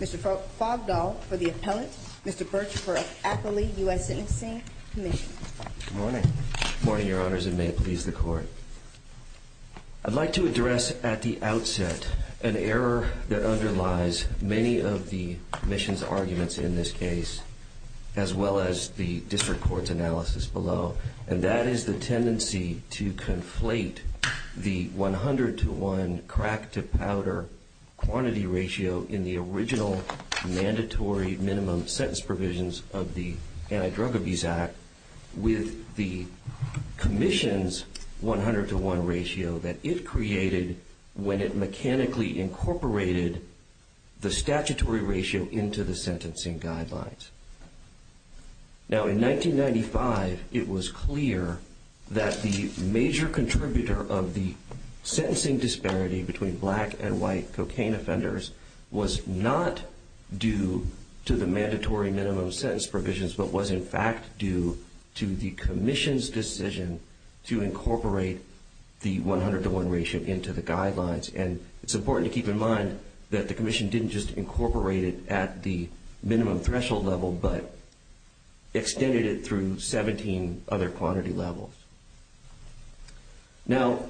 Mr. Fogdahl for the Appellant, Mr. Birch for Appellee, U.S. Sentencing Commission. Good morning. Good morning, Your Honors, and may it please the Court. I'd like to address at the outset an error that underlies many of the Commission's arguments in this case, as the District Court's analysis below, and that is the tendency to conflate the 100-to-1 crack-to-powder quantity ratio in the original mandatory minimum sentence provisions of the Anti-Drug Abuse Act with the Commission's 100-to-1 ratio that it created when it mechanically incorporated the statutory ratio into the sentencing guidelines. Now, in 1995, it was clear that the major contributor of the sentencing disparity between black and white cocaine offenders was not due to the mandatory minimum sentence provisions, but was in fact due to the Commission's decision to incorporate the 100-to-1 ratio into the guidelines. And it's important to keep in mind that the Commission didn't just incorporate it at the minimum threshold level, but extended it through 17 other quantity levels. Now,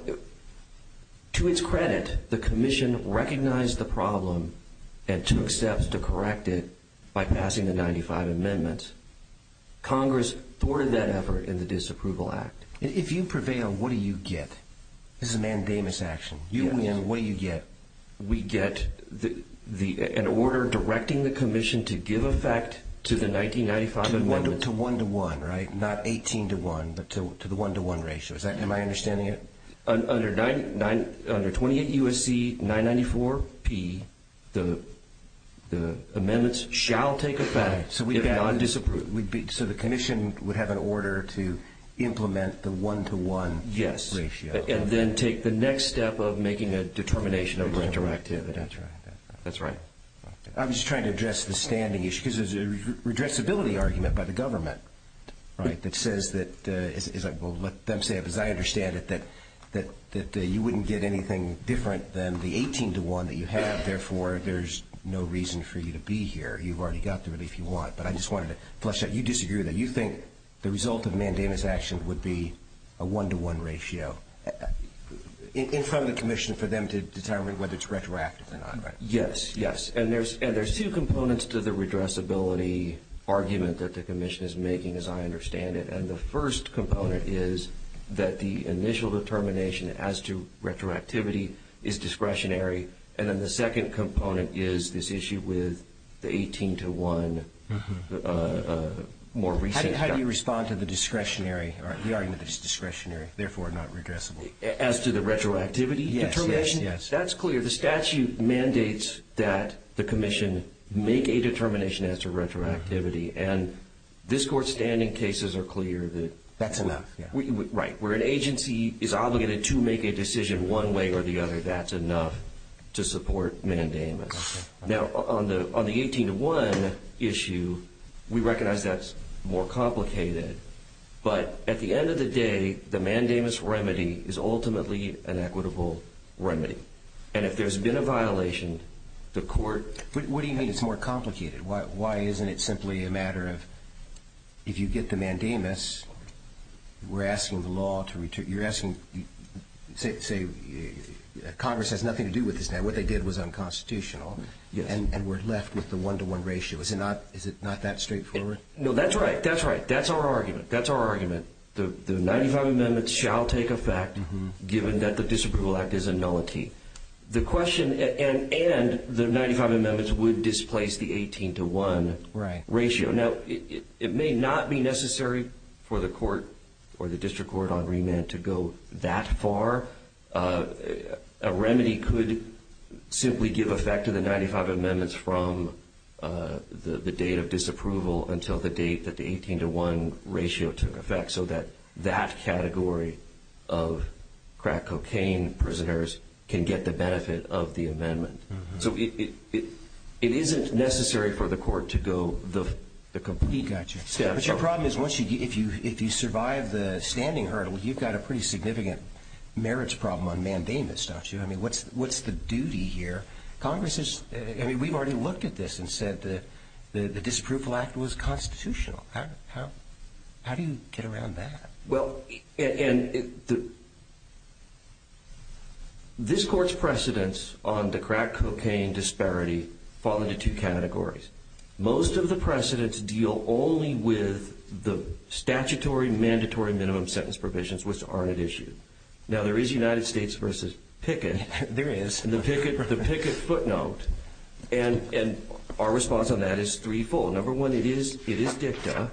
to its credit, the Commission recognized the problem and took steps to correct it by passing the 1995 Amendment. Congress thwarted that effort in the Disapproval Act. If you prevail, what do you get? This is a mandamus action. You win. What do you get? We get an order directing the Commission to give effect to the 1995 Amendment. To 1-to-1, right? Not 18-to-1, but to the 1-to-1 ratio. Am I understanding it? Under 28 U.S.C. 994-P, the amendments shall take effect if not disapproved. So the Commission would have an order to implement the 1-to-1 ratio. Yes. And then take the next step of making a determination of retroactivity. That's right. I was just trying to address the standing issue, because there's a redressability argument by the government, right, that says that, as I understand it, that you wouldn't get anything different than the 18-to-1 that you have. Therefore, there's no reason for you to be here. You've already got the relief you want. But I just wanted to flesh out. You disagree with that. You think the result of mandamus action would be a 1-to-1 ratio in front of the Commission for them to determine whether it's retroactive or not, right? Yes, yes. And there's two components to the redressability argument that the Commission is making, as I understand it. And the first component is that the initial determination as to retroactivity is discretionary. And then the second component is this issue with the 18-to-1, more recently. How do you respond to the discretionary, or the argument that it's discretionary, therefore not regressible? As to the retroactivity determination? Yes, yes, yes. That's clear. The statute mandates that the Commission make a determination as to retroactivity. And this Court's standing cases are clear. That's enough. Right. Where an agency is obligated to make a decision one way or the other, that's enough to support mandamus. Now, on the 18-to-1 issue, we recognize that's more complicated. But at the end of the day, the mandamus remedy is ultimately an equitable remedy. And if there's been a violation, the Court… What do you mean it's more complicated? Why isn't it simply a matter of if you get the mandamus, we're asking the law to… You're asking, say, Congress has nothing to do with this now. What they did was unconstitutional. Yes. And we're left with the one-to-one ratio. Is it not that straightforward? No, that's right. That's right. That's our argument. That's our argument. The 95 amendments shall take effect given that the Disapproval Act is a nullity. The question… And the 95 amendments would displace the 18-to-1 ratio. Now, it may not be necessary for the Court or the District Court on remand to go that far. A remedy could simply give effect to the 95 amendments from the date of disapproval until the date that the 18-to-1 ratio took effect so that that category of crack cocaine prisoners can get the benefit of the amendment. So it isn't necessary for the Court to go the complete… But your problem is once you… If you survive the standing hurdle, you've got a pretty significant merits problem on mandamus, don't you? I mean, what's the duty here? Congress is… I mean, we've already looked at this and said the Disapproval Act was constitutional. How do you get around that? Well, this Court's precedents on the crack cocaine disparity fall into two categories. Most of the precedents deal only with the statutory, mandatory minimum sentence provisions, which aren't at issue. Now, there is United States v. Pickett. There is. And the Pickett footnote. And our response on that is threefold. Number one, it is dicta.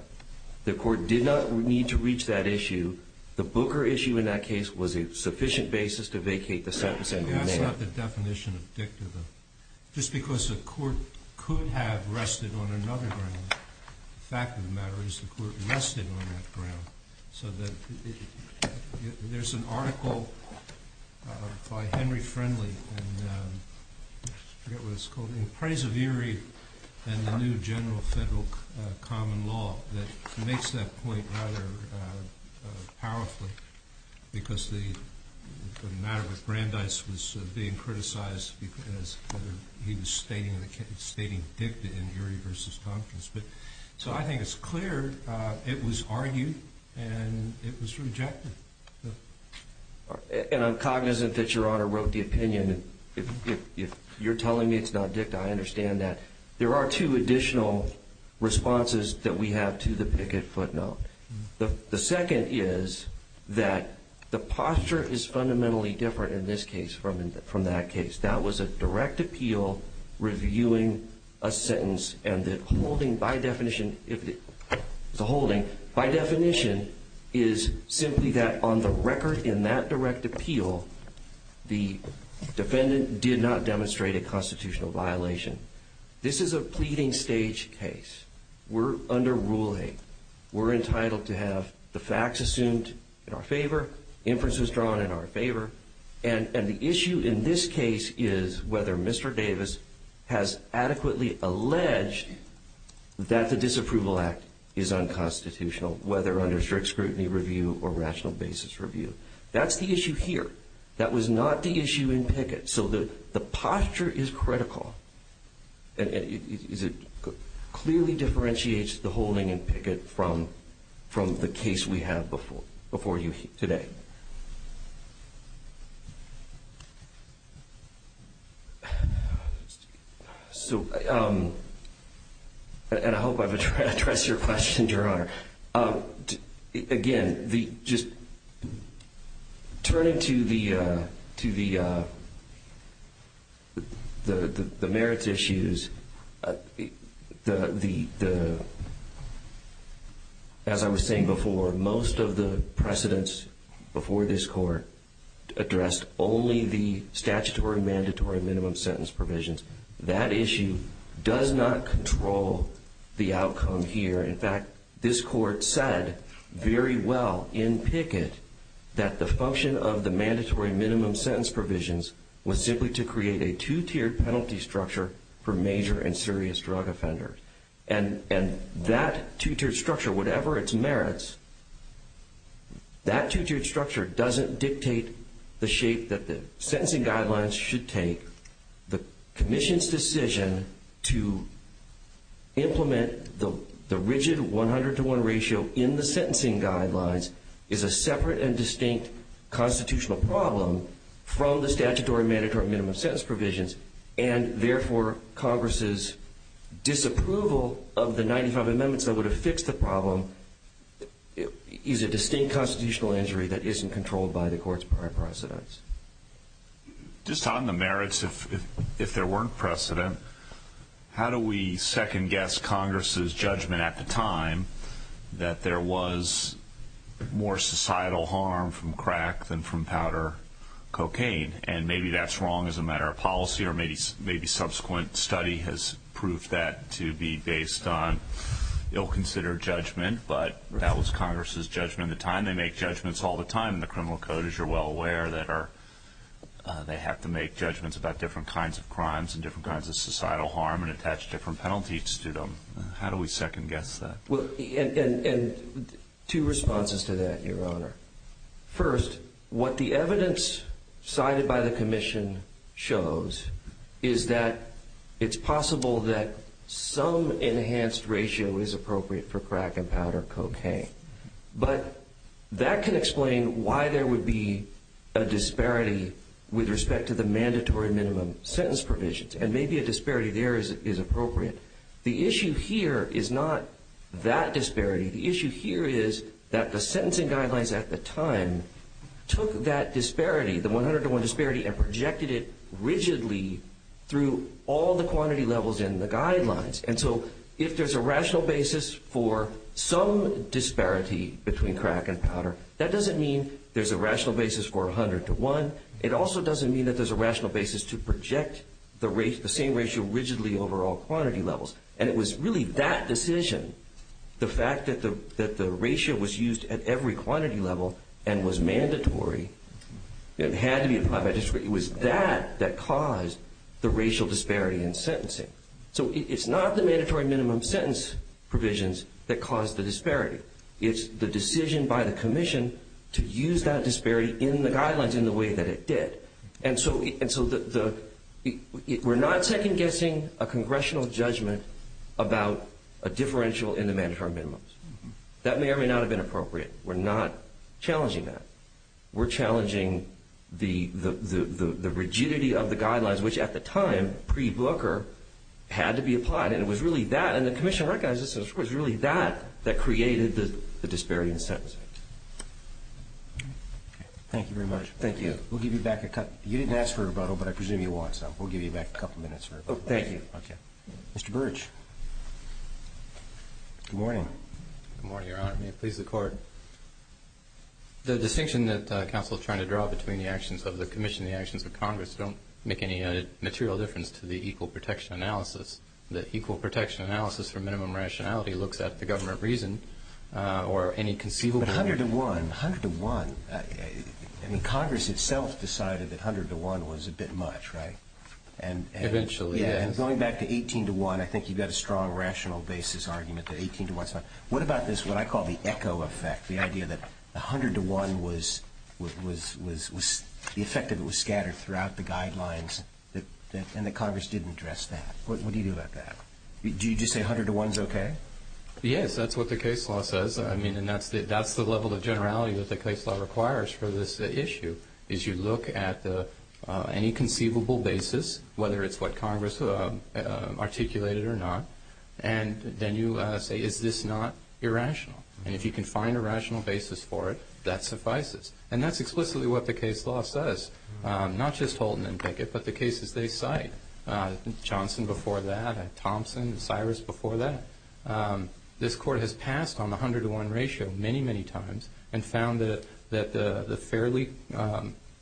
The Court did not need to reach that issue. The Booker issue in that case was a sufficient basis to vacate the sentence. That's not the definition of dicta, though. Just because the Court could have rested on another ground, the fact of the matter is the Court rested on that ground. So there's an article by Henry Friendly, and I forget what it's called, in Praise of Erie and the New General Federal Common Law that makes that point rather powerfully because the matter with Brandeis was being criticized because he was stating dicta in Erie v. Tompkins. So I think it's clear it was argued and it was rejected. And I'm cognizant that Your Honor wrote the opinion. If you're telling me it's not dicta, I understand that. There are two additional responses that we have to the Pickett footnote. The second is that the posture is fundamentally different in this case from that case. That was a direct appeal reviewing a sentence, and the holding by definition is simply that on the record in that direct appeal, the defendant did not demonstrate a constitutional violation. This is a pleading stage case. We're under Rule 8. We're entitled to have the facts assumed in our favor, inferences drawn in our favor, and the issue in this case is whether Mr. Davis has adequately alleged that the disapproval act is unconstitutional, whether under strict scrutiny review or rational basis review. That's the issue here. That was not the issue in Pickett. So the posture is critical. It clearly differentiates the holding in Pickett from the case we have before you today. And I hope I've addressed your question, Your Honor. Again, turning to the merits issues, as I was saying before, most of the precedents before this Court addressed only the statutory, mandatory, minimum sentence provisions. That issue does not control the outcome here. In fact, this Court said very well in Pickett that the function of the mandatory, minimum sentence provisions was simply to create a two-tiered penalty structure for major and serious drug offenders. And that two-tiered structure, whatever its merits, that two-tiered structure doesn't dictate the shape that the sentencing guidelines should take. The Commission's decision to implement the rigid 100-to-1 ratio in the sentencing guidelines is a separate and distinct constitutional problem from the statutory, mandatory, minimum sentence provisions, and therefore Congress's disapproval of the 95 amendments that would have fixed the problem is a distinct constitutional injury that isn't controlled by the Court's prior precedents. Just on the merits, if there weren't precedent, how do we second-guess Congress's judgment at the time that there was more societal harm from crack than from powder cocaine? And maybe that's wrong as a matter of policy, or maybe subsequent study has proved that to be based on ill-considered judgment, but that was Congress's judgment at the time. Again, they make judgments all the time in the criminal code, as you're well aware, that they have to make judgments about different kinds of crimes and different kinds of societal harm and attach different penalties to them. How do we second-guess that? And two responses to that, Your Honor. First, what the evidence cited by the Commission shows is that it's possible that some enhanced ratio is appropriate for crack and powder cocaine. But that can explain why there would be a disparity with respect to the mandatory minimum sentence provisions, and maybe a disparity there is appropriate. The issue here is not that disparity. The issue here is that the sentencing guidelines at the time took that disparity, the 101 disparity, and projected it rigidly through all the quantity levels in the guidelines. And so if there's a rational basis for some disparity between crack and powder, that doesn't mean there's a rational basis for 101. It also doesn't mean that there's a rational basis to project the same ratio rigidly over all quantity levels. And it was really that decision, the fact that the ratio was used at every quantity level and was mandatory and had to be applied by district, it was that that caused the racial disparity in sentencing. So it's not the mandatory minimum sentence provisions that caused the disparity. It's the decision by the Commission to use that disparity in the guidelines in the way that it did. And so we're not second-guessing a congressional judgment about a differential in the mandatory minimums. That may or may not have been appropriate. We're not challenging that. We're challenging the rigidity of the guidelines, which at the time, pre-Booker, had to be applied. And it was really that, and the Commission recognizes this, it was really that that created the disparity in sentencing. Thank you very much. Thank you. We'll give you back a couple of minutes. You didn't ask for a rebuttal, but I presume you want some. We'll give you back a couple of minutes for a rebuttal. Thank you. Mr. Burge. Good morning. Good morning, Your Honor. May it please the Court. The distinction that counsel is trying to draw between the actions of the Commission and the actions of Congress don't make any material difference to the equal protection analysis. The equal protection analysis for minimum rationality looks at the government reason or any conceivable reason. But 100 to 1, 100 to 1, I mean Congress itself decided that 100 to 1 was a bit much, right? Eventually, yes. And going back to 18 to 1, I think you've got a strong rational basis argument that 18 to 1 is not. What about this, what I call the echo effect, the idea that 100 to 1 was, the effect of it was scattered throughout the guidelines and that Congress didn't address that. What do you do about that? Do you just say 100 to 1 is okay? Yes, that's what the case law says. I mean, and that's the level of generality that the case law requires for this issue, is you look at any conceivable basis, whether it's what Congress articulated or not, and then you say, is this not irrational? And if you can find a rational basis for it, that suffices. And that's explicitly what the case law says, not just Holton and Pickett, but the cases they cite, Johnson before that, Thompson, Cyrus before that. This Court has passed on the 100 to 1 ratio many, many times and found that the fairly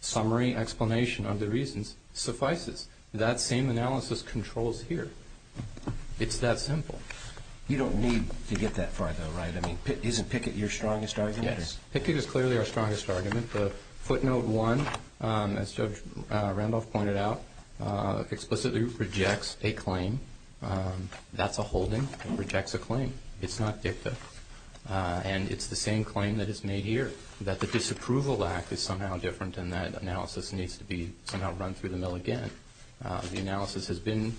summary explanation of the reasons suffices. That same analysis controls here. It's that simple. You don't need to get that far, though, right? I mean, isn't Pickett your strongest argument? Yes, Pickett is clearly our strongest argument. The footnote 1, as Judge Randolph pointed out, explicitly rejects a claim. That's a holding. It rejects a claim. It's not dicta. And it's the same claim that is made here, that the disapproval act is somehow different and that analysis needs to be somehow run through the mill again. The analysis has been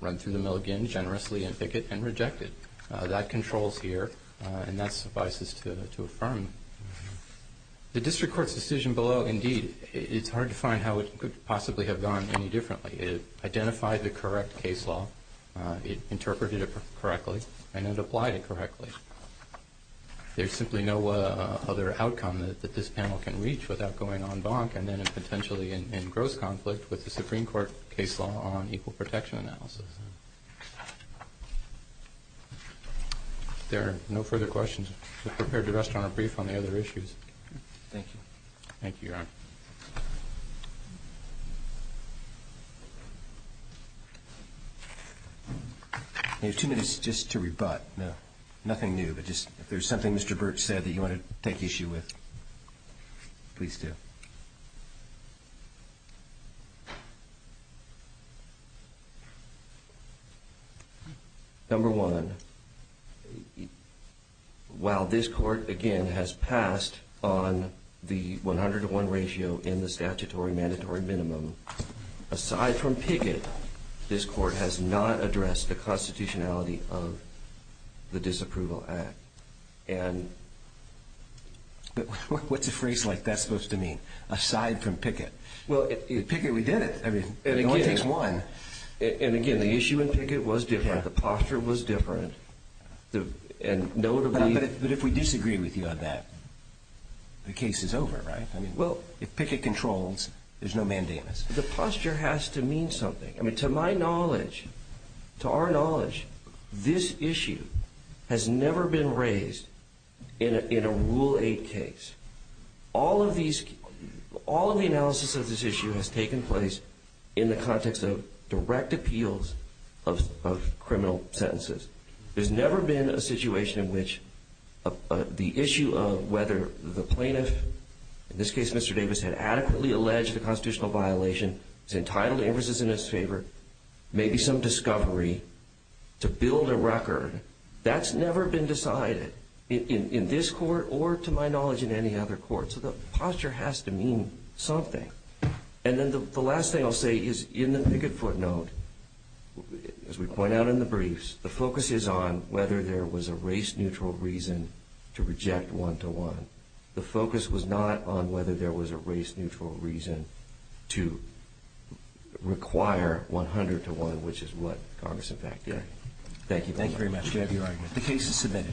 run through the mill again, generously in Pickett, and rejected. That controls here, and that suffices to affirm. The district court's decision below, indeed, it's hard to find how it could possibly have gone any differently. It identified the correct case law. It interpreted it correctly, and it applied it correctly. There's simply no other outcome that this panel can reach without going en banc and then potentially in gross conflict with the Supreme Court case law on equal protection analysis. If there are no further questions, we're prepared to rest on our brief on the other issues. Thank you, Your Honor. I have two minutes just to rebut. Nothing new, but just if there's something Mr. Burch said that you want to take issue with, please do. Number one, while this court, again, has passed on the 100 to 1 ratio in the statutory mandatory minimum, aside from Pickett, this court has not addressed the constitutionality of the disapproval act. What's a phrase like that supposed to mean, aside from Pickett? Pickett, we did it. It only takes one. Again, the issue in Pickett was different. The posture was different. But if we disagree with you on that, the case is over, right? If Pickett controls, there's no mandamus. The posture has to mean something. To my knowledge, to our knowledge, this issue has never been raised in a Rule 8 case. All of the analysis of this issue has taken place in the context of direct appeals of criminal sentences. There's never been a situation in which the issue of whether the plaintiff, in this case Mr. Davis, had adequately alleged a constitutional violation, was entitled to inferences in his favor, maybe some discovery, to build a record. That's never been decided in this court or, to my knowledge, in any other court. So the posture has to mean something. And then the last thing I'll say is, in the Pickett footnote, as we point out in the briefs, the focus is on whether there was a race-neutral reason to reject one-to-one. The focus was not on whether there was a race-neutral reason to require one-hundred-to-one, which is what Congress, in fact, did. Thank you. Thank you very much. We have your argument. The case is submitted.